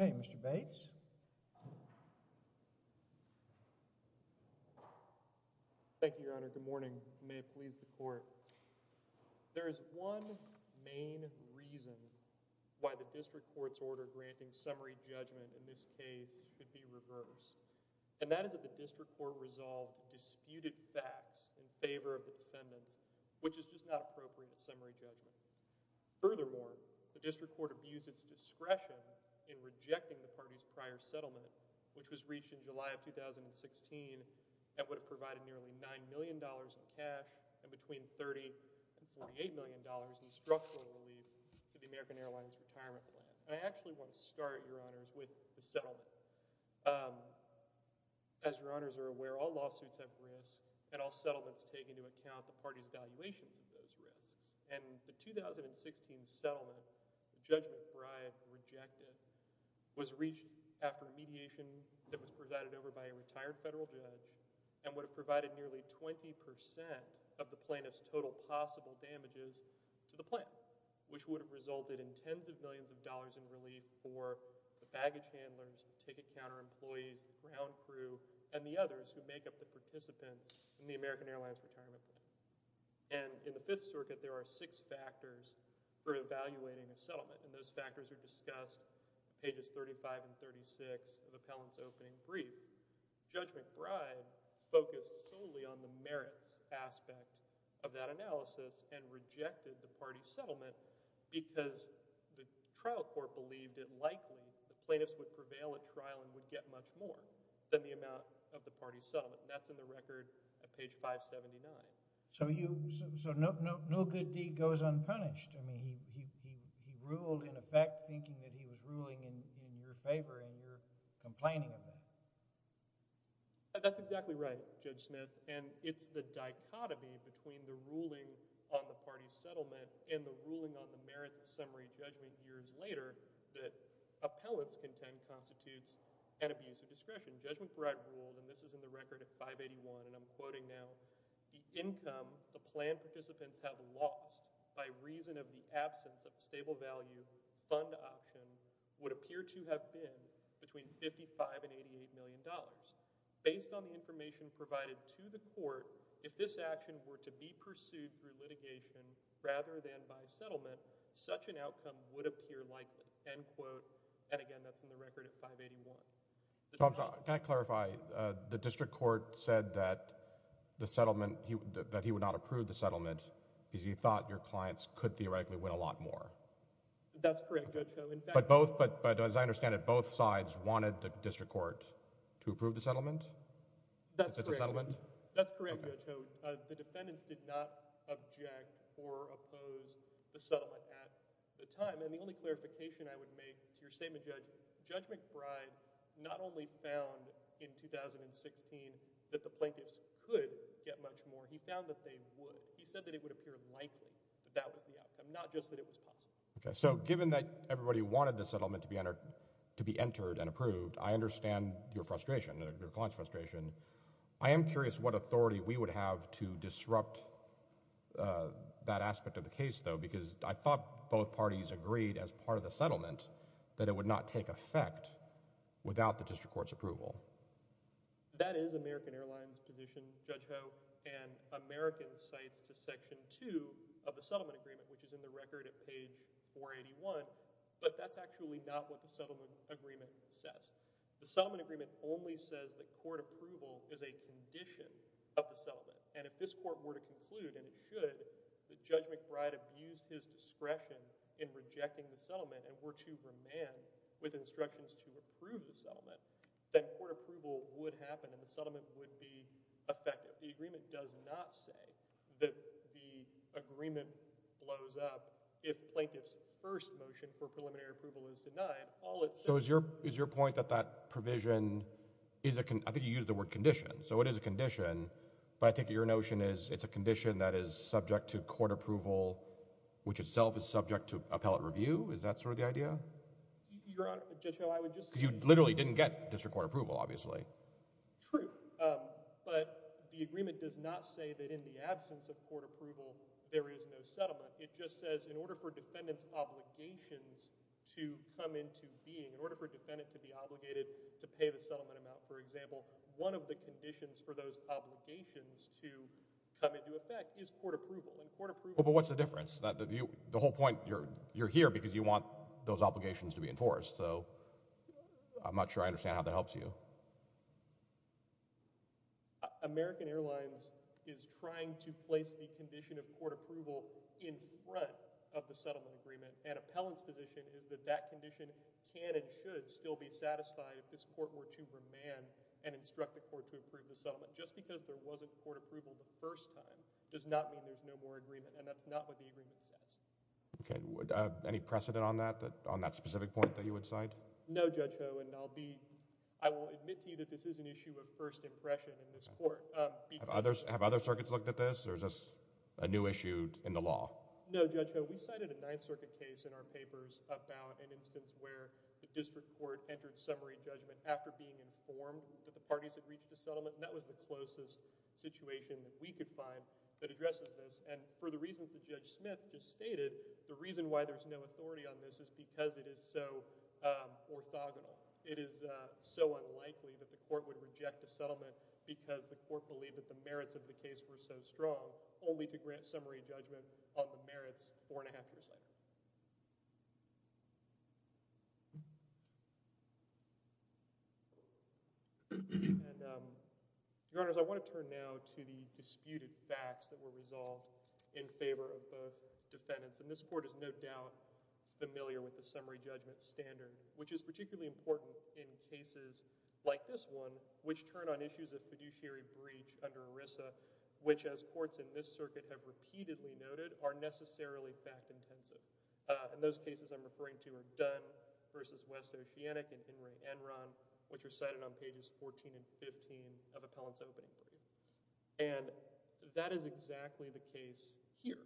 Okay. Mr. Bates? Thank you, Your Honor. Good morning. May it please the Court. There is one main reason why the district court's order granting summary judgment in this case could be reversed, and that is that the district court resolved disputed facts in favor of the defendants, which is just not appropriate summary judgment. Furthermore, the district court abused its discretion in rejecting the party's prior settlement, which was reached in July of 2016 and would have provided nearly $9 million in cash and between $30 and $48 million in structural relief to the American Airlines retirement plan. I actually want to start, Your Honors, with the settlement. As Your Honors are aware, all lawsuits have risks, and all settlements take into account the party's valuations of those risks. And the 2016 settlement, the judgment for I have rejected, was reached after mediation that was provided over by a retired federal judge and would have provided nearly 20 percent of the plaintiff's total possible damages to the plan, which would have resulted in the trial court, the baggage handlers, the ticket counter employees, the ground crew, and the others who make up the participants in the American Airlines retirement plan. And in the Fifth Circuit, there are six factors for evaluating a settlement, and those factors are discussed on pages 35 and 36 of the appellant's opening brief. Judge McBride focused solely on the merits aspect of that analysis and rejected the party's settlement because the plaintiffs would prevail at trial and would get much more than the amount of the party's settlement. That's in the record at page 579. So you, so no good deed goes unpunished. I mean, he ruled in effect thinking that he was ruling in your favor, and you're complaining of that. That's exactly right, Judge Smith, and it's the dichotomy between the ruling on the party's settlement and the ruling on the merits of summary judgment years later that appellant's contempt constitutes an abuse of discretion. Judge McBride ruled, and this is in the record at 581, and I'm quoting now, the income the plan participants have lost by reason of the absence of a stable value fund option would appear to have been between $55 and $88 million. Based on the information provided to the court, if this action were to be pursued through litigation rather than by settlement, such an outcome would appear likely, end quote, and again, that's in the record at 581. Can I clarify? The district court said that the settlement, that he would not approve the settlement because he thought your clients could theoretically win a lot more. That's correct, Judge Ho. But both, as I understand it, both sides wanted the district court to approve the settlement? That's correct, Judge Ho. The defendants did not object or oppose the settlement at the time, and the only clarification I would make to your statement, Judge, Judge McBride not only found in 2016 that the plaintiffs could get much more, he found that they would. He said that it would appear likely that that was the outcome, not just that it was possible. Okay, so given that everybody wanted the settlement to be entered and approved, I understand your frustration, your client's frustration. I am curious what authority we would have to disrupt that aspect of the case, though, because I thought both parties agreed as part of the settlement that it would not take effect without the district court's approval. That is American Airlines' position, Judge Ho, and American cites to Section 2 of the settlement agreement, which is in the record at page 481, but that's actually not what the settlement agreement says. The settlement agreement only says that court approval is a condition of the settlement, and if this court were to conclude, and it should, that Judge McBride abused his discretion in rejecting the settlement and were to remand with instructions to approve the settlement, then court approval would happen, and the settlement would be effective. The agreement does not say that the agreement blows up if plaintiff's first motion for preliminary approval is denied. So is your point that that provision is a, I think you used the word condition, so it is a condition, but I take it your notion is it's a condition that is subject to court approval, which itself is subject to appellate review? Is that sort of the idea? Your Honor, Judge Ho, I would just say... Because you literally didn't get district court approval, obviously. True, but the agreement does not say that in the absence of court approval, there is no settlement. It just says in order for defendant's obligations to come into being, in order for a defendant to be obligated to pay the settlement amount, for example, one of the conditions for those obligations to come into effect is court approval, and court approval... But what's the difference? The whole point, you're here because you want those obligations to be enforced, so I'm not sure I understand how that helps you. Well, American Airlines is trying to place the condition of court approval in front of the settlement agreement, and appellant's position is that that condition can and should still be satisfied if this court were to remand and instruct the court to approve the settlement. Just because there wasn't court approval the first time does not mean there's no more agreement, and that's not what the agreement says. Okay. Any precedent on that, on that specific point that you would cite? No, Judge Ho, and I'll be... I will admit to you that this is an issue of first impression in this court. Have other circuits looked at this, or is this a new issue in the law? No, Judge Ho. We cited a Ninth Circuit case in our papers about an instance where the district court entered summary judgment after being informed that the parties had reached a settlement, and that was the closest situation that we could find that addresses this, and for the reasons that Judge Smith just stated, the reason why there's no authority on this is because it is so orthogonal. It is so unlikely that the court would reject a settlement because the court believed that the merits of the case were so strong, only to grant summary judgment on the merits four and a half years later. Your Honors, I want to turn now to the disputed facts that were resolved in favor of both standards, which is particularly important in cases like this one, which turn on issues of fiduciary breach under ERISA, which, as courts in this circuit have repeatedly noted, are necessarily fact-intensive. And those cases I'm referring to are Dunn v. West Oceanic and In re Enron, which are cited on pages 14 and 15 of Appellant's opening. And that is exactly the case here,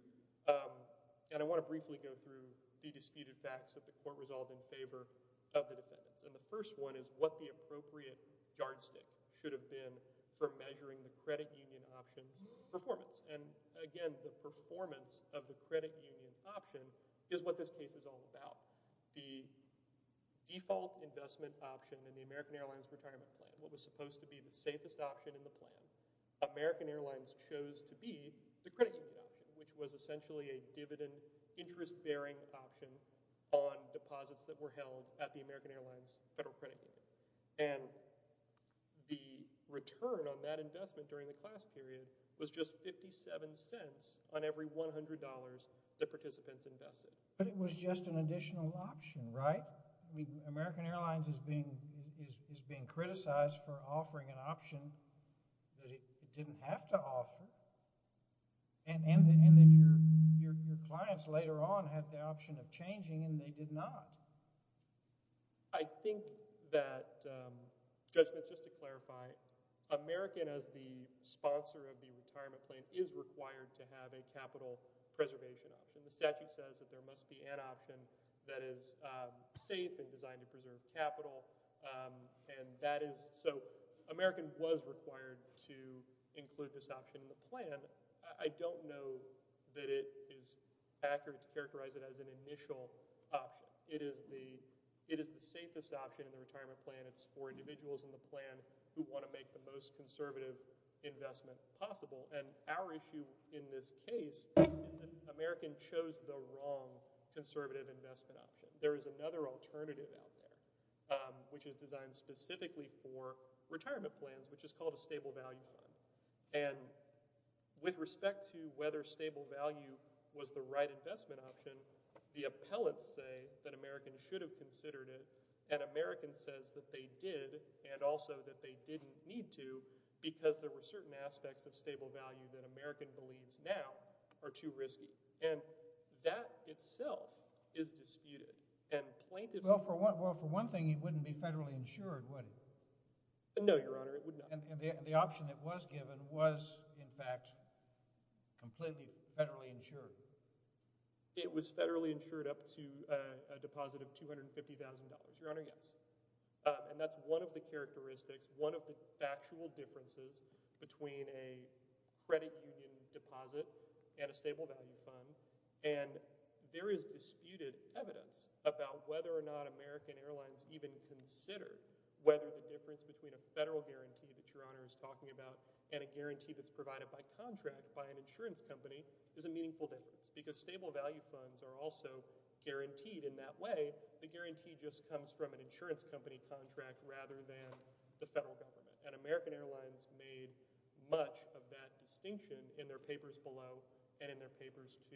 and I want to briefly go through the disputed facts that the court resolved in favor of the defendants. And the first one is what the appropriate yardstick should have been for measuring the credit union option's performance. And again, the performance of the credit union option is what this case is all about. The default investment option in the American Airlines retirement plan, what was supposed to be the safest option in the plan, American Airlines chose to be the credit union option, which was essentially a dividend interest-bearing option on deposits that were held at the American Airlines Federal Credit Union. And the return on that investment during the class period was just 57 cents on every $100 the participants invested. But it was just an additional option, right? American Airlines is being criticized for offering an option that it didn't have to And that your clients later on had the option of changing, and they did not. I think that, Judge Smith, just to clarify, American, as the sponsor of the retirement plan, is required to have a capital preservation option. The statute says that there must be an option that is safe and designed to preserve capital. And that is, so American was required to include this option in the plan. I don't know that it is accurate to characterize it as an initial option. It is the safest option in the retirement plan. It's for individuals in the plan who want to make the most conservative investment possible. And our issue in this case is that American chose the wrong conservative investment option. There is another alternative out there, which is designed specifically for retirement plans, which is called a stable value fund. And with respect to whether stable value was the right investment option, the appellants say that American should have considered it, and American says that they did, and also that they didn't need to, because there were certain aspects of stable value that American believes now are too risky. And that itself is disputed. And plaintiffs— Well, for one thing, it wouldn't be federally insured, would it? No, Your Honor, it would not. And the option that was given was, in fact, completely federally insured. It was federally insured up to a deposit of $250,000. Your Honor, yes. And that's one of the characteristics, one of the factual differences between a credit union deposit and a stable value fund. And there is disputed evidence about whether or not American Airlines even considered whether or not the difference between a federal guarantee that Your Honor is talking about and a guarantee that's provided by contract by an insurance company is a meaningful difference, because stable value funds are also guaranteed in that way. The guarantee just comes from an insurance company contract rather than the federal government. And American Airlines made much of that distinction in their papers below and in their papers to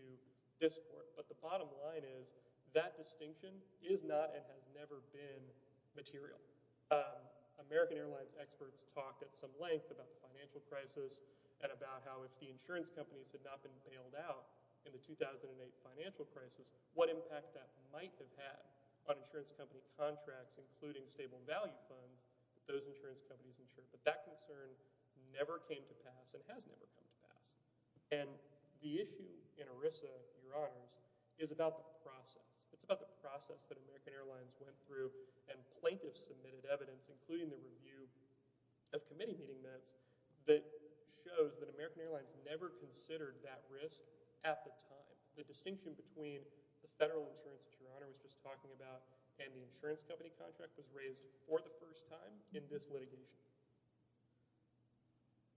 this Court. But the bottom line is that distinction is not and has never been material. American Airlines experts talked at some length about the financial crisis and about how if the insurance companies had not been bailed out in the 2008 financial crisis, what impact that might have had on insurance company contracts, including stable value funds, that those insurance companies insured. But that concern never came to pass and has never come to pass. And the issue in ERISA, Your Honors, is about the process. It's about the process that American Airlines went through and plaintiffs submitted evidence, including the review of committee meeting minutes, that shows that American Airlines never considered that risk at the time. The distinction between the federal insurance that Your Honor was just talking about and the insurance company contract was raised for the first time in this litigation.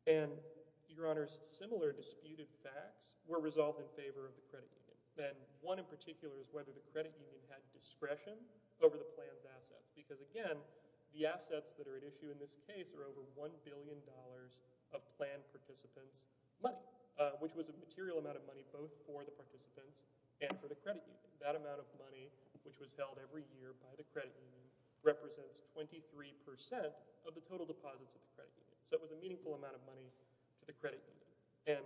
And, Your Honors, similar disputed facts were resolved in favor of the credit union. And one in particular is whether the credit union had discretion over the plan's assets. Because, again, the assets that are at issue in this case are over $1 billion of planned participants' money, which was a material amount of money both for the participants and for the credit union. That amount of money, which was held every year by the credit union, represents 23 percent of the total deposits of the credit union. So it was a meaningful amount of money to the credit union. And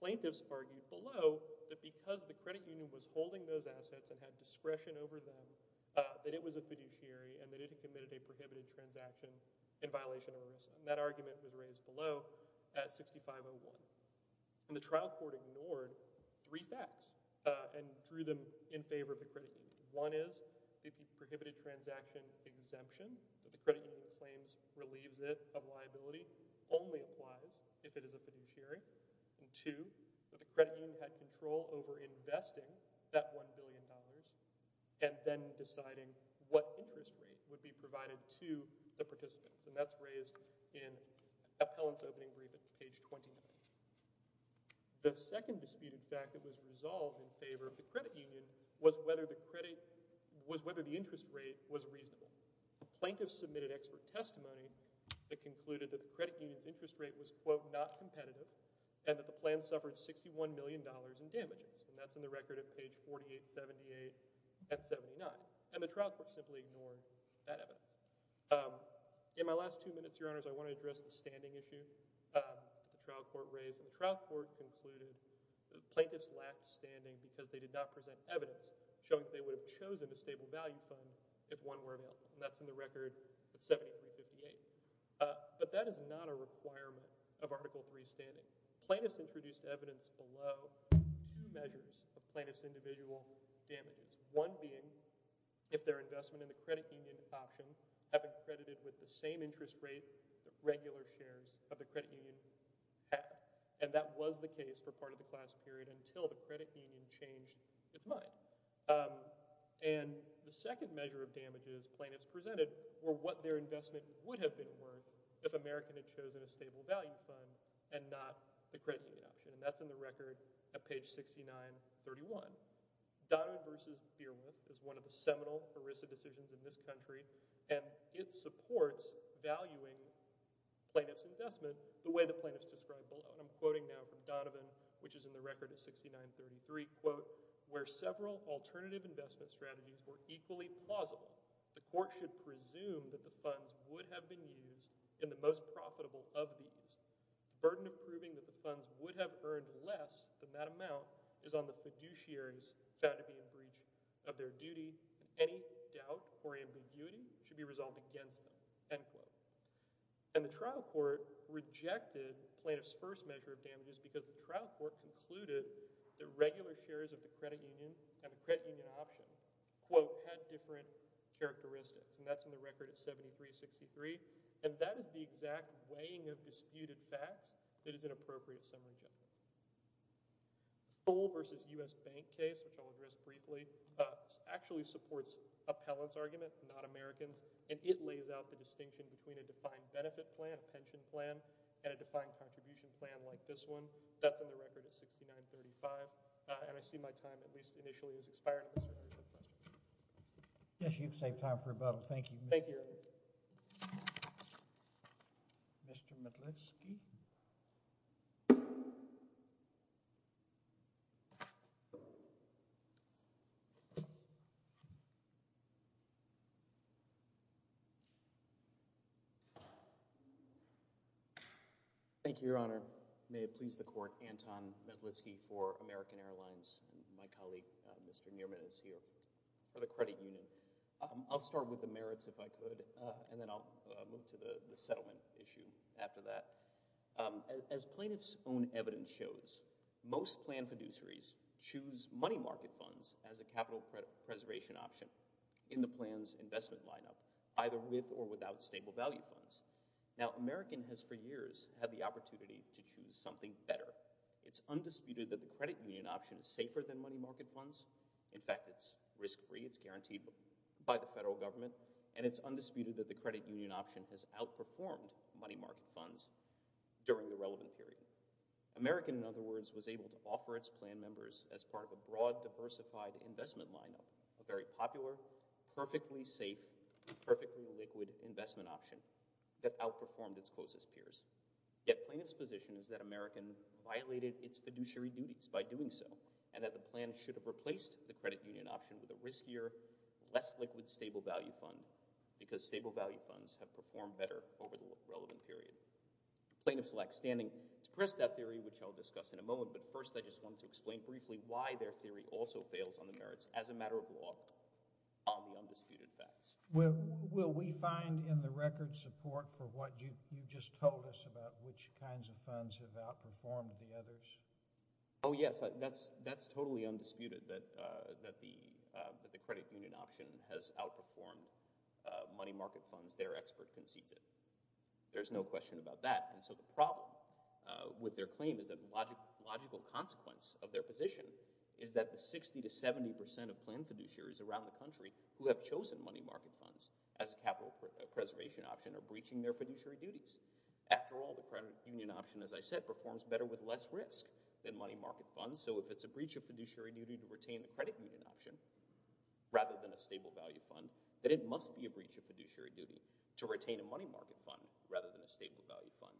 plaintiffs argued below that because the credit union was holding those assets and had discretion over them, that it was a fiduciary and that it had committed a prohibited transaction in violation of ERISA. And that argument was raised below at 6501. And the trial court ignored three facts and drew them in favor of the credit union. One is that the prohibited transaction exemption that the credit union claims relieves it of liability only applies if it is a fiduciary. And two, that the credit union had control over investing that $1 billion and then deciding what interest rate would be provided to the participants. And that's raised in Appellant's opening brief at page 29. The second disputed fact that was resolved in favor of the credit union was whether the credit—was whether the interest rate was reasonable. Plaintiffs submitted expert testimony that concluded that the credit union's interest rate was, quote, not competitive and that the plan suffered $61 million in damages. And that's in the record at page 4878 at 79. And the trial court simply ignored that evidence. In my last two minutes, Your Honors, I want to address the standing issue. The trial court raised—the trial court concluded that plaintiffs lacked standing because they did not present evidence showing that they would have chosen a stable value fund if one were available. And that's in the record at 7358. But that is not a requirement of Article III standing. Plaintiffs introduced evidence below two measures of plaintiffs' individual damages. One being if their investment in the credit union option had been credited with the same interest rate that regular shares of the credit union have. And that was the case for part of the class period until the credit union changed its mind. And the second measure of damages plaintiffs presented were what their investment would have been worth if American had chosen a stable value fund and not the credit union option. And that's in the record at page 6931. Donovan v. Beardwood is one of the seminal ERISA decisions in this country, and it supports valuing plaintiffs' investment the way the plaintiffs described below. And I'm quoting now from Donovan, which is in the record at 6933, quote, where several alternative investment strategies were equally plausible. The court should presume that the funds would have been used in the most profitable of these. Burden of proving that the funds would have earned less than that amount is on the fiduciaries found to be a breach of their duty. Any doubt or ambiguity should be resolved against them, end quote. And the trial court rejected plaintiffs' first measure of damages because the trial court concluded that regular shares of the credit union and the credit union option, quote, had different characteristics. And that's in the record at 7363. And that is the exact weighing of disputed facts that is inappropriate summary judgment. Full v. U.S. Bank case, which I'll address briefly, actually supports appellant's argument, not American's. And it lays out the distinction between a defined benefit plan, a pension plan, and a defined contribution plan like this one. That's in the record at 6935. And I see my time at least initially has expired. Yes, you've saved time for rebuttal. Thank you. Thank you, Your Honor. Mr. Metlitsky. Thank you, Your Honor. May it please the court, Anton Metlitsky for American Airlines. My colleague, Mr. Nierman, is here for the credit union. I'll start with the merits if I could, and then I'll move to the settlement issue after that. As plaintiff's own evidence shows, most plan fiduciaries choose money market funds as a capital preservation option in the plan's investment lineup, either with or without stable value funds. Now, American has for years had the opportunity to choose something better. It's undisputed that the credit union option is safer than money market funds. In fact, it's risk-free. It's guaranteed by the federal government. And it's undisputed that the credit union option has outperformed money market funds during the relevant period. American, in other words, was able to offer its plan members as part of a broad, diversified investment lineup, a very popular, perfectly safe, perfectly liquid investment option that outperformed its closest peers. Yet plaintiff's position is that American violated its fiduciary duties by doing so and that the plan should have replaced the credit union option with a riskier, less liquid stable value fund because stable value funds have performed better over the relevant period. Plaintiff's lackstanding expressed that theory, which I'll discuss in a moment, but first I just want to explain briefly why their theory also fails on the merits as a matter of law on the undisputed facts. Will we find in the record support for what you just told us about which kinds of funds have outperformed the others? Oh, yes. That's totally undisputed that the credit union option has outperformed money market funds. Their expert concedes it. There's no question about that. And so the problem with their claim is that the logical consequence of their position is that the 60 to 70 percent of plan fiduciaries around the country who have chosen money market funds as a capital preservation option are breaching their fiduciary duties. After all, the credit union option, as I said, performs better with less risk than money market funds. So if it's a breach of fiduciary duty to retain the credit union option rather than a stable value fund, then it must be a breach of fiduciary duty to retain a money market fund rather than a stable value fund.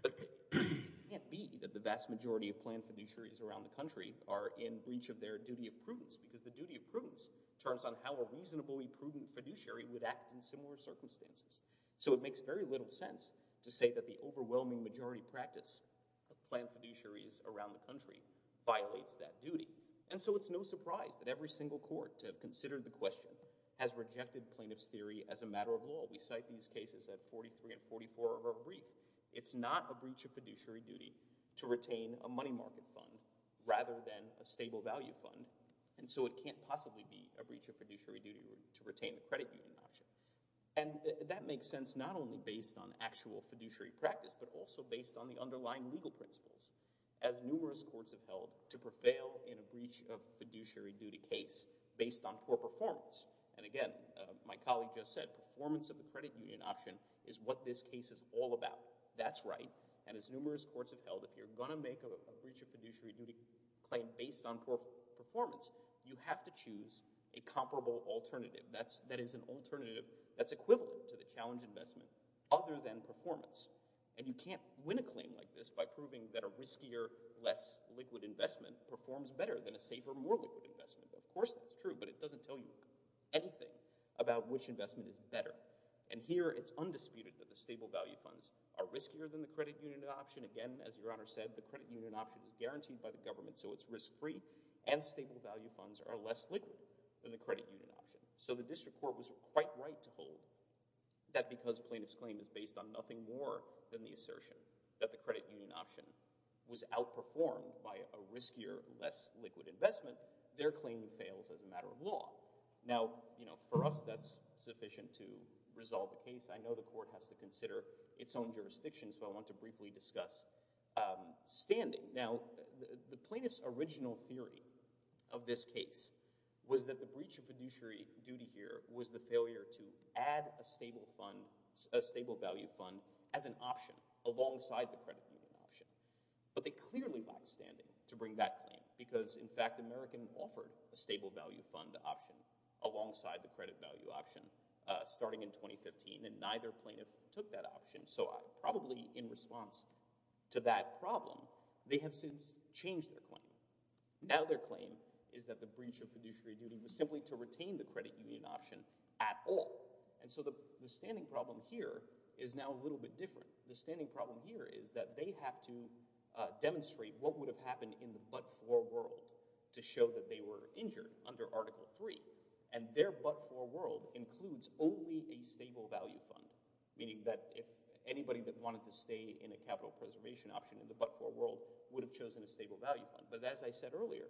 But it can't be that the vast majority of plan fiduciaries around the country are in breach of their duty of prudence because the duty of prudence turns on how a reasonably prudent fiduciary would act in similar circumstances. So it makes very little sense to say that the overwhelming majority practice of plan fiduciaries around the country violates that duty. And so it's no surprise that every single court to have considered the question has rejected plaintiff's theory as a matter of law. We cite these cases at 43 and 44 of our brief. It's not a breach of fiduciary duty to retain a money market fund rather than a stable value fund. And so it can't possibly be a breach of fiduciary duty to retain the credit union option. And that makes sense not only based on actual fiduciary practice but also based on the underlying legal principles. As numerous courts have held, to prevail in a breach of fiduciary duty case based on poor performance. And again, my colleague just said performance of the credit union option is what this case is all about. That's right. And as numerous courts have held, if you're going to make a breach of fiduciary duty claim based on poor performance, you have to choose a comparable alternative. That is an alternative that's equivalent to the challenge investment other than performance. And you can't win a claim like this by proving that a riskier, less liquid investment performs better than a safer, more liquid investment. Of course that's true, but it doesn't tell you anything about which investment is better. And here it's undisputed that the stable value funds are riskier than the credit union option. Again, as Your Honor said, the credit union option is guaranteed by the government so it's risk-free. And stable value funds are less liquid than the credit union option. So the district court was quite right to hold that because plaintiff's claim is based on nothing more than the assertion that the credit union option was outperformed by a riskier, less liquid investment, their claim fails as a matter of law. Now, you know, for us that's sufficient to resolve the case. I know the court has to consider its own jurisdiction so I want to briefly discuss standing. Now, the plaintiff's original theory of this case was that the breach of fiduciary duty here was the failure to add a stable value fund as an option alongside the credit union option. But they clearly lied standing to bring that claim because, in fact, American offered a stable value fund option alongside the credit value option starting in 2015 and neither plaintiff took that option. So probably in response to that problem, they have since changed their claim. Now their claim is that the breach of fiduciary duty was simply to retain the credit union option at all. And so the standing problem here is now a little bit different. The standing problem here is that they have to demonstrate what would have happened in the but-for world to show that they were injured under Article 3. And their but-for world includes only a stable value fund, meaning that if anybody that wanted to stay in a capital preservation option in the but-for world would have chosen a stable value fund. But as I said earlier,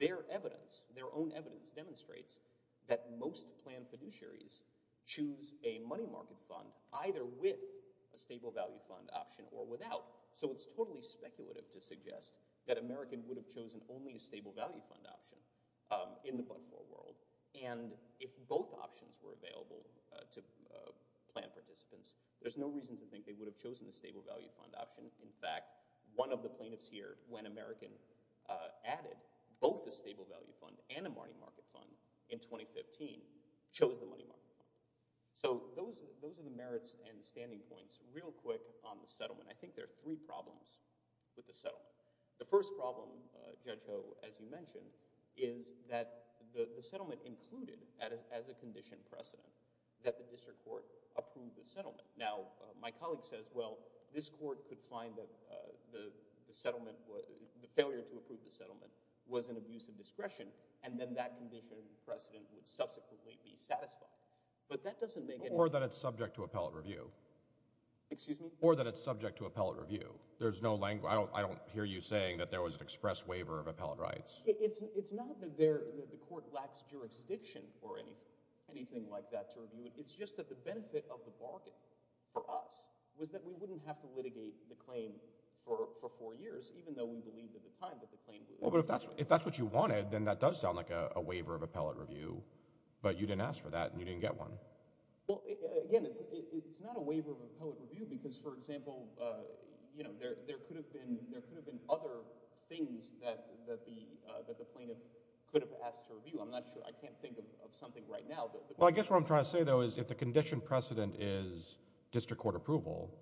their evidence, their own evidence demonstrates that most planned fiduciaries choose a money market fund either with a stable value fund option or without. So it's totally speculative to suggest that American would have chosen only a stable value fund option in the but-for world. And if both options were available to plan participants, there's no reason to think they would have chosen a stable value fund option. In fact, one of the plaintiffs here, when American added both a stable value fund and a money market fund in 2015, chose the money market fund. So those are the merits and standing points. Real quick on the settlement. I think there are three problems with the settlement. The first problem, Judge Ho, as you mentioned, is that the settlement included as a condition precedent that the district court approve the settlement. Now, my colleague says, well, this court could find that the failure to approve the settlement was an abuse of discretion, and then that condition precedent would subsequently be satisfied. But that doesn't make any sense. Or that it's subject to appellate review. Excuse me? Or that it's subject to appellate review. I don't hear you saying that there was an express waiver of appellate rights. It's not that the court lacks jurisdiction for anything like that. It's just that the benefit of the bargain for us was that we wouldn't have to litigate the claim for four years, even though we believed at the time that the claim... Well, but if that's what you wanted, then that does sound like a waiver of appellate review. But you didn't ask for that, and you didn't get one. Well, again, it's not a waiver of appellate review, because, for example, you know, there could have been other things that the plaintiff could have asked to review. I'm not sure. I can't think of something right now. Well, I guess what I'm trying to say, though, is if the condition precedent is district court approval,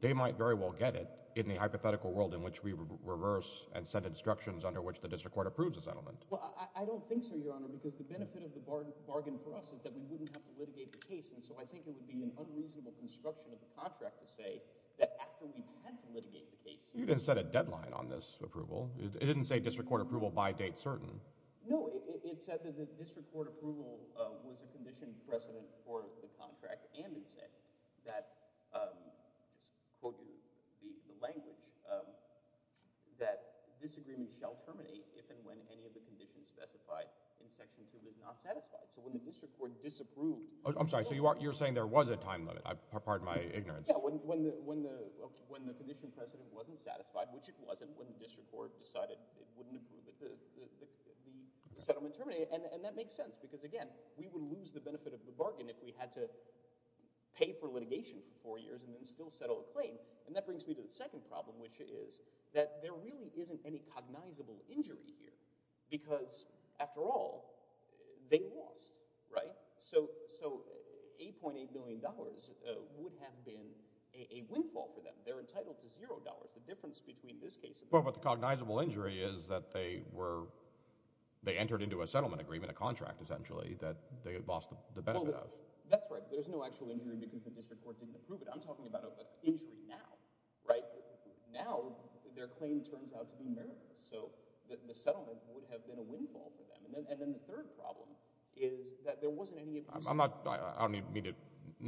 they might very well get it in the hypothetical world in which we reverse and send instructions under which the district court approves a settlement. Well, I don't think so, Your Honor, because the benefit of the bargain for us is that we wouldn't have to litigate the case, and so I think it would be an unreasonable construction of the contract to say that after we've had to litigate the case... You didn't set a deadline on this approval. It didn't say district court approval by date certain. No, it said that the district court approval was a condition precedent for the contract and it said that, I'll quote you the language, that disagreement shall terminate if and when any of the conditions specified in Section 2 is not satisfied. So when the district court disapproved... I'm sorry, so you're saying there was a time limit. Pardon my ignorance. Yeah, when the condition precedent wasn't satisfied, which it wasn't when the district court decided it wouldn't approve it, the settlement terminated, and that makes sense because, again, we would lose the benefit of the bargain if we had to pay for litigation for four years and then still settle a claim, and that brings me to the second problem, which is that there really isn't any cognizable injury here because, after all, they lost, right? So $8.8 million would have been a windfall for them. They're entitled to $0. The difference between this case... Well, but the cognizable injury is that they entered into a settlement agreement, a contract, essentially, that they had lost the benefit of. That's right. There's no actual injury because the district court didn't approve it. I'm talking about an injury now, right? Now their claim turns out to be meritless, so the settlement would have been a windfall for them. And then the third problem is that there wasn't any... I don't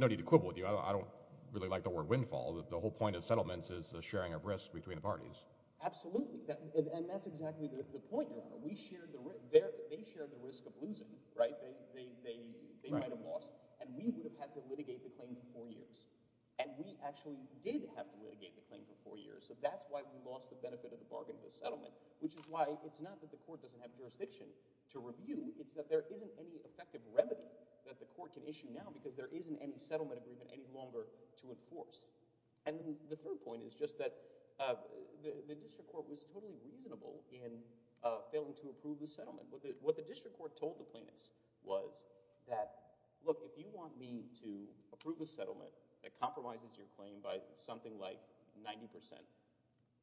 need to quibble with you. I don't really like the word windfall. The whole point of settlements is the sharing of risk between the parties. Absolutely, and that's exactly the point you're on. They shared the risk of losing, right? They might have lost, and we would have had to litigate the claim for four years. And we actually did have to litigate the claim for four years, so that's why we lost the benefit of the bargain of the settlement, which is why it's not that the court doesn't have jurisdiction to review. It's that there isn't any effective remedy that the court can issue now because there isn't any settlement agreement any longer to enforce. And the third point is just that the district court was totally reasonable in failing to approve the settlement. What the district court told the plaintiffs was that, look, if you want me to approve a settlement that compromises your claim by something like 90%,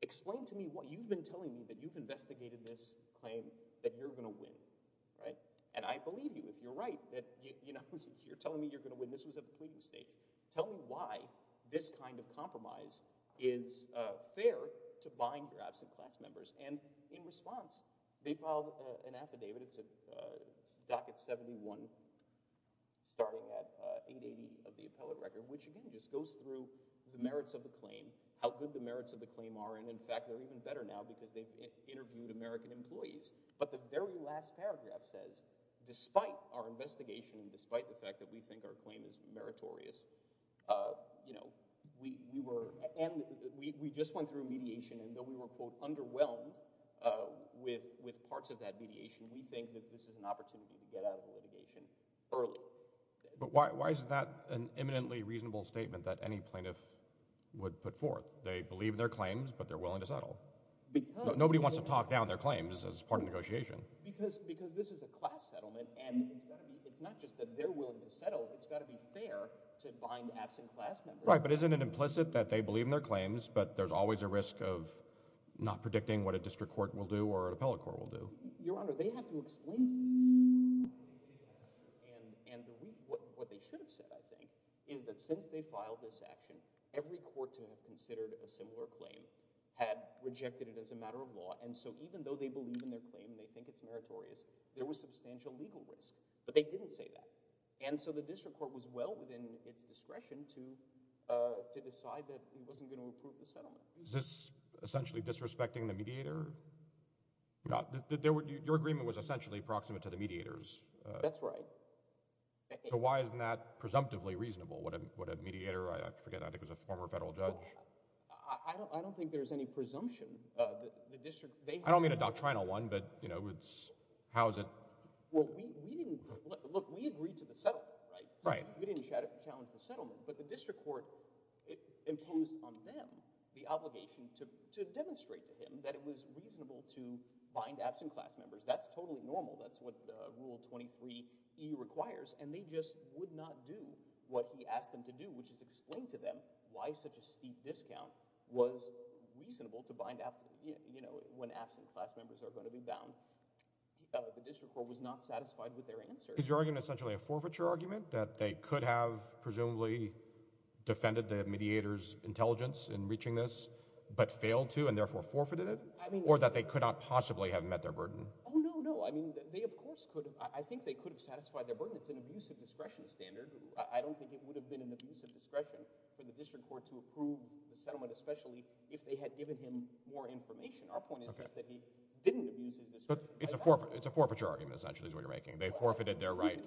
explain to me what you've been telling me that you've investigated this claim that you're going to win. And I believe you if you're right. You're telling me you're going to win. This was at the pleading stage. Tell me why this kind of compromise is fair to bind your absent class members. And in response, they filed an affidavit. It's a Docket 71, starting at 880 of the appellate record, which again just goes through the merits of the claim, how good the merits of the claim are, and in fact they're even better now because they've interviewed American employees. But the very last paragraph says, despite our investigation and despite the fact that we think our claim is meritorious, we just went through a mediation, and though we were, quote, underwhelmed with parts of that mediation, we think that this is an opportunity to get out of litigation early. But why is that an imminently reasonable statement that any plaintiff would put forth? They believe in their claims, but they're willing to settle. Nobody wants to talk down their claims as part of negotiation. Because this is a class settlement, and it's not just that they're willing to settle. It's got to be fair to bind absent class members. Right, but isn't it implicit that they believe in their claims, but there's always a risk of not predicting what a district court will do or an appellate court will do? Your Honor, they have to explain to the district court what they believe they have. And what they should have said, I think, is that since they filed this action, every court to have considered a similar claim had rejected it as a matter of law. And so even though they believe in their claim and they think it's meritorious, there was substantial legal risk. But they didn't say that. And so the district court was well within its discretion to decide that it wasn't going to approve the settlement. Is this essentially disrespecting the mediator? Your agreement was essentially proximate to the mediator's. That's right. So why isn't that presumptively reasonable? What a mediator—I forget, I think it was a former federal judge. I don't think there's any presumption. I don't mean a doctrinal one, but how is it— Well, look, we agreed to the settlement, right? Right. We didn't challenge the settlement. But the district court imposed on them the obligation to demonstrate to him that it was reasonable to bind absent class members. That's totally normal. That's what Rule 23E requires. And they just would not do what he asked them to do, which is explain to them why such a steep discount was reasonable to bind when absent class members are going to be bound. The district court was not satisfied with their answer. Is your argument essentially a forfeiture argument, that they could have presumably defended the mediator's intelligence in reaching this, but failed to and therefore forfeited it? Or that they could not possibly have met their burden? Oh, no, no. I mean, they of course could have. I think they could have satisfied their burden. It's an abusive discretion standard. I don't think it would have been an abusive discretion for the district court to approve the settlement, especially if they had given him more information. Our point is that he didn't abuse his discretion. But it's a forfeiture argument, essentially, is what you're making. They forfeited their right.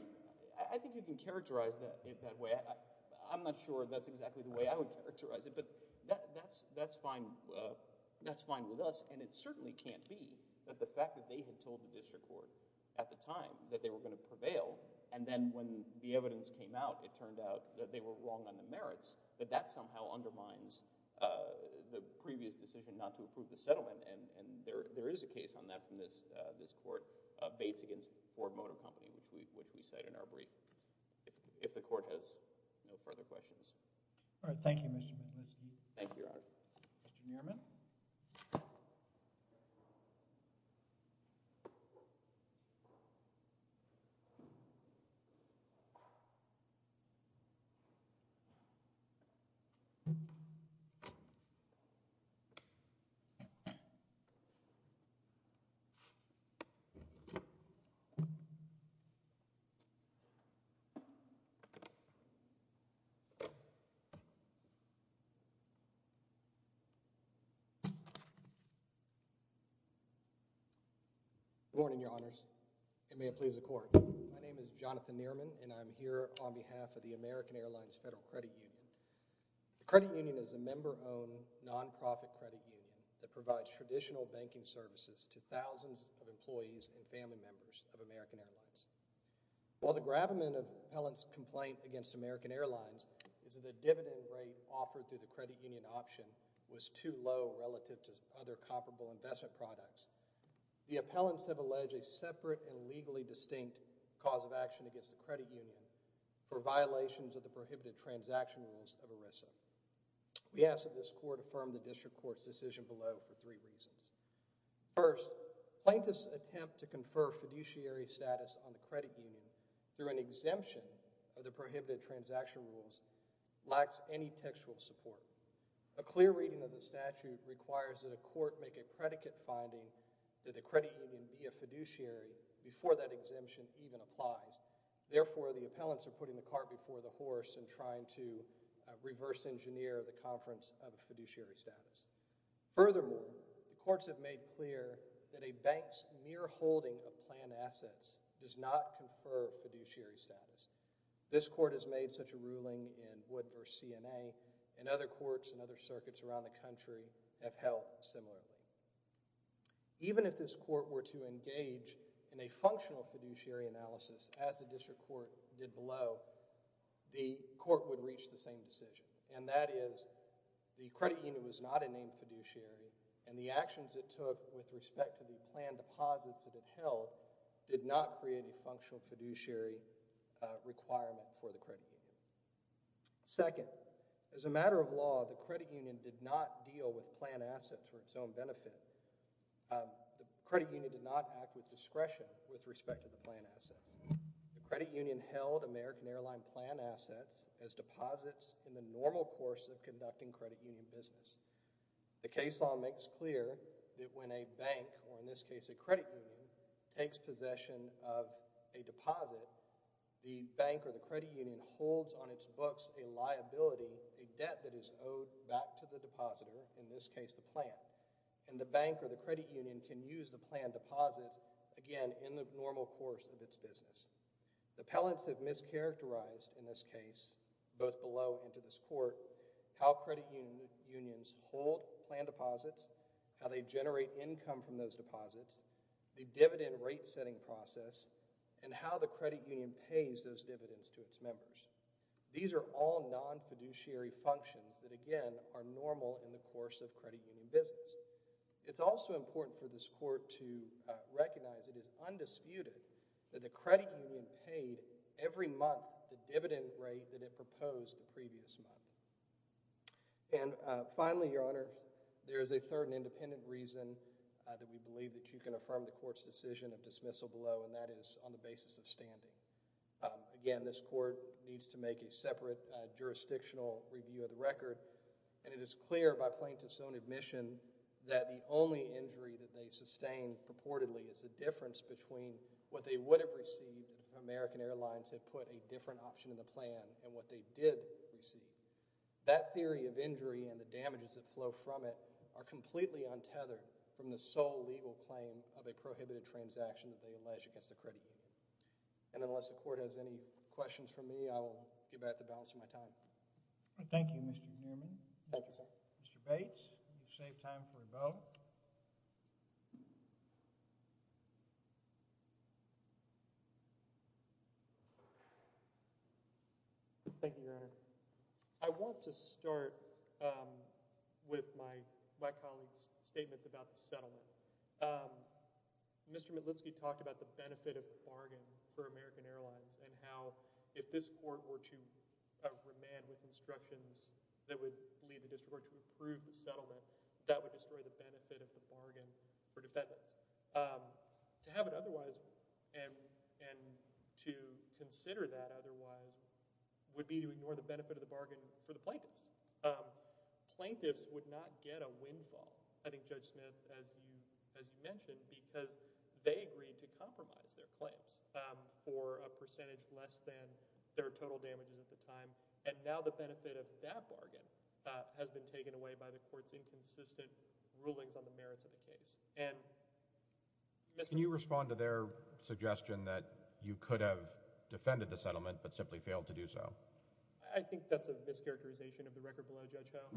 I think you can characterize it that way. I'm not sure that's exactly the way I would characterize it. But that's fine with us. And it certainly can't be that the fact that they had told the district court at the time that they were going to prevail, and then when the evidence came out, it turned out that they were wrong on the merits, that that somehow undermines the previous decision not to approve the settlement. And there is a case on that from this court, Bates v. Ford Motor Company, which we cite in our brief, if the court has no further questions. All right. Thank you, Mr. McNichol. Thank you, Your Honor. Good morning, Your Honors. And may it please the Court. My name is Jonathan Nehrman, and I'm here on behalf of the American Airlines Federal Credit Union. The credit union is a member-owned, non-profit credit union that provides traditional banking services to thousands of employees and family members of American Airlines. While the gravamen of the appellant's complaint against American Airlines is that the dividend rate offered through the credit union option was too low relative to other comparable investment products, the appellants have alleged a separate and legally distinct cause of action against the credit union for violations of the prohibited transaction rules of ERISA. We ask that this court affirm the district court's decision below for three reasons. First, plaintiffs' attempt to confer fiduciary status on the credit union through an exemption of the prohibited transaction rules lacks any textual support. A clear reading of the statute requires that a court make a predicate finding that the credit union be a fiduciary before that exemption even applies. Therefore, the appellants are putting the cart before the horse and trying to reverse-engineer the conference of fiduciary status. Furthermore, the courts have made clear that a bank's mere holding of planned assets does not confer fiduciary status. This court has made such a ruling in Wood v. CNA, and other courts and other circuits around the country have held similarly. Even if this court were to engage in a functional fiduciary analysis, as the district court did below, the court would reach the same decision, and that is the credit union was not a named fiduciary and the actions it took with respect to the planned deposits that it held did not create a functional fiduciary requirement for the credit union. Second, as a matter of law, the credit union did not deal with planned assets for its own benefit. The credit union did not act with discretion with respect to the planned assets. The credit union held American Airline planned assets as deposits in the normal course of conducting credit union business. The case law makes clear that when a bank, or in this case a credit union, takes possession of a deposit, the bank or the credit union holds on its books a liability, a debt that is owed back to the depositor, in this case the plan, and the bank or the credit union can use the planned deposits again in the normal course of its business. The appellants have mischaracterized in this case, both below and to this court, how credit unions hold planned deposits, how they generate income from those deposits, the dividend rate setting process, and how the credit union pays those dividends to its members. These are all non-fiduciary functions that again are normal in the course of credit union business. It's also important for this court to recognize it is undisputed that the credit union paid every month the dividend rate that it proposed the previous month. And finally, Your Honor, there is a third and independent reason that we believe that you can affirm the court's decision of dismissal below, and that is on the basis of standing. Again, this court needs to make a separate jurisdictional review of the record, and it is clear by plaintiff's own admission that the only injury that they sustain purportedly is the difference between what they would have received if American Airlines had put a different option in the plan and what they did receive. That theory of injury and the damages that flow from it are completely untethered from the sole legal claim of a prohibited transaction that they alleged against the credit union. And unless the court has any questions for me, I will get back to balancing my time. Thank you, Mr. Newman. Mr. Bates, you saved time for a vote. Thank you, Your Honor. I want to start with my colleague's statements about the settlement. Mr. Mitlitsky talked about the benefit of the bargain for American Airlines and how if this court were to remand with instructions that would lead the district to approve the settlement, that would destroy the benefit of the bargain for defendants. To have it otherwise, and to consider that otherwise, would be to ignore the benefit of the bargain for the plaintiffs. Plaintiffs would not get a windfall, I think Judge Smith, as you mentioned, because they agreed to compromise their claims for a percentage less than their total damages at the time. And now the benefit of that bargain has been taken away by the court's inconsistent rulings on the merits of the case. Can you respond to their suggestion that you could have defended the settlement but simply failed to do so? I think that's a mischaracterization of the record below, Judge Ho,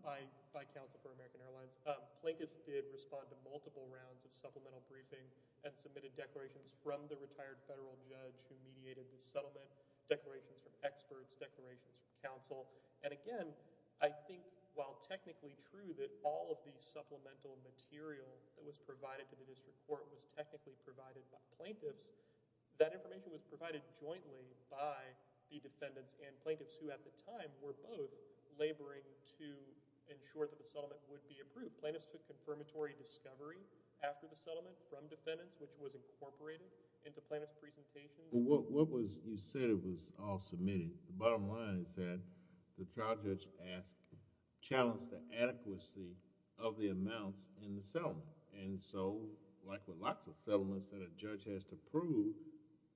by counsel for American Airlines. Plaintiffs did respond to multiple rounds of supplemental briefing and submitted declarations from the retired federal judge who mediated the settlement, declarations from experts, declarations from counsel, and again, I think while technically true that all of the supplemental material that was provided to the district court was technically provided by plaintiffs, that information was provided jointly by the defendants and plaintiffs who at the time were both laboring to ensure that the settlement would be approved. Plaintiffs took confirmatory discovery after the settlement from defendants which was incorporated into plaintiffs' presentations. What was... you said it was all submitted. The bottom line is that the trial judge challenged the adequacy of the amounts in the settlement. Like with lots of settlements that a judge has to prove,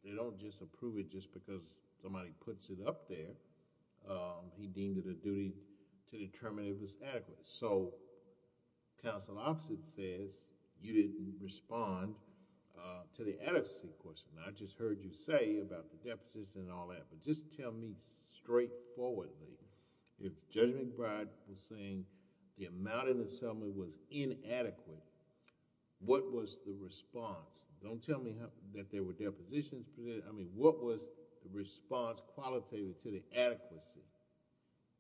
they don't just approve it just because somebody puts it up there. He deemed it a duty to determine if it was adequate. Counsel opposite says you didn't respond to the adequacy question. I just heard you say about the deficits and all that but just tell me straightforwardly if Judge McBride was saying the amount in the settlement was inadequate, what was the response? Don't tell me that there were depositions presented. I mean what was the response qualitatively to the adequacy?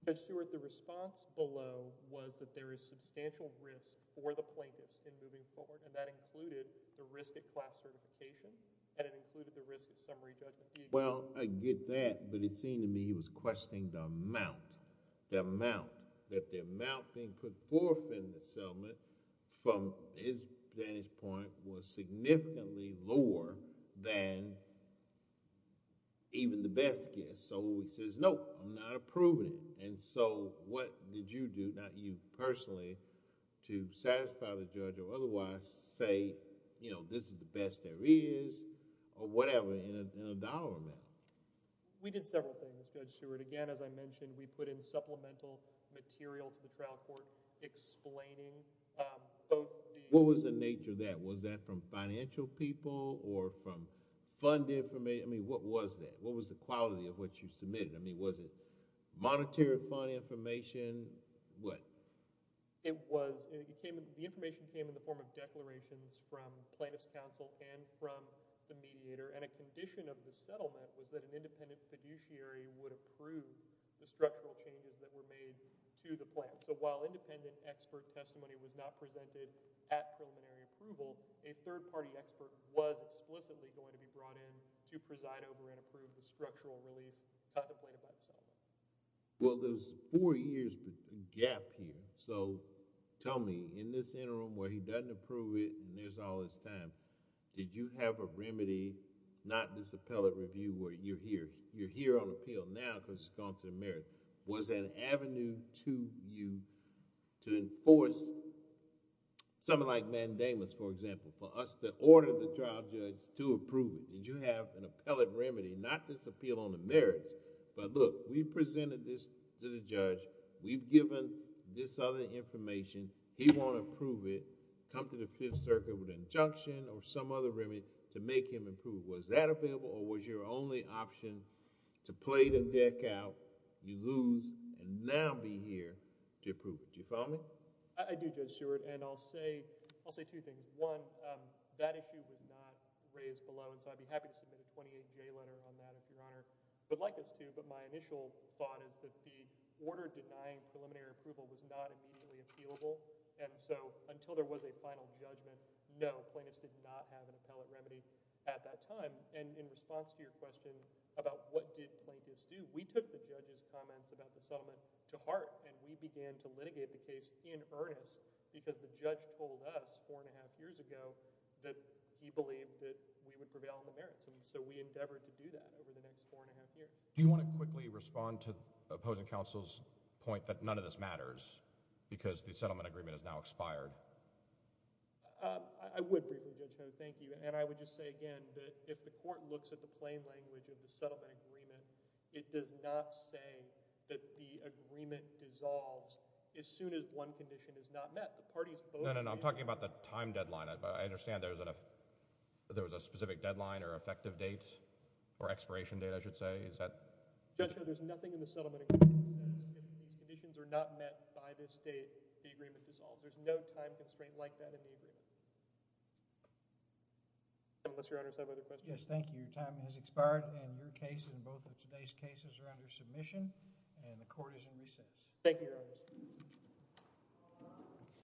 Judge Stewart, the response below was that there is substantial risk for the plaintiffs in moving forward and that included the risk of class certification and it included the risk of summary judgment. Well, I get that but it seemed to me he was questioning the amount. That the amount being put forth in the settlement from his vantage point was significantly lower than even the best guess. So he says, no, I'm not approving it. What did you do, not you personally, to satisfy the judge or otherwise say this is the best there is or whatever in a dollar amount? We did several things, Judge Stewart. Again, as I mentioned, we put in supplemental material to the trial court explaining both the... What was the nature of that? Was that from financial people or from fund information? I mean what was that? What was the quality of what you submitted? I mean was it monetary fund information? It was. The information came in the form of declarations from plaintiffs' counsel and from the mediator and a condition of the settlement was that an independent fiduciary would approve the structural changes that were made to the plan. So while independent expert testimony was not presented at preliminary approval, a third party expert was explicitly going to be brought in to preside over and approve the structural relief contemplated by the settlement. Well, there's four years gap here. Tell me, in this interim where he doesn't approve it and there's all this time, did you have a remedy, not this appellate review where you're here, you're here on appeal now because it's gone to the merits. Was there an avenue to you to enforce something like mandamus, for example, for us to order the trial judge to approve it? Did you have an appellate remedy, not this appeal on the merits, but look, we presented this to the judge, we've given this other information, he won't approve it, come to the Fifth Circuit with an injunction or some other remedy to make him approve. Was that available or was your only option to play the deck out, you lose, and now be here to approve it? Do you follow me? I do, Judge Seward, and I'll say two things. One, that issue was not raised below, and so I'd be happy to submit a 28-J letter on that if Your Honor would like us to, but my initial thought is that the appellate remedy was not available, and so until there was a final judgment, no, plaintiffs did not have an appellate remedy at that time. And in response to your question about what did plaintiffs do, we took the judge's comments about the settlement to heart and we began to litigate the case in earnest because the judge told us four and a half years ago that he believed that we would prevail on the merits, and so we endeavored to do that over the next four and a half years. Do you want to quickly respond to the opposing counsel's point that none of this matters because the settlement agreement is now expired? I would briefly, Judge Ho, thank you, and I would just say again that if the court looks at the plain language of the settlement agreement, it does not say that the agreement dissolves as soon as one condition is not met. The parties both... No, no, no, I'm talking about the time deadline. I understand there was a specific deadline or effective date or expiration date, I should say. Is that... Judge Ho, there's nothing in the settlement agreement that says if these conditions are not met by this date, the agreement dissolves. There's no time constraint like that in the agreement. Unless Your Honor has other questions. Yes, thank you. Your time has expired and your case and both of today's cases are under submission and the court is in recess. Thank you, Your Honor.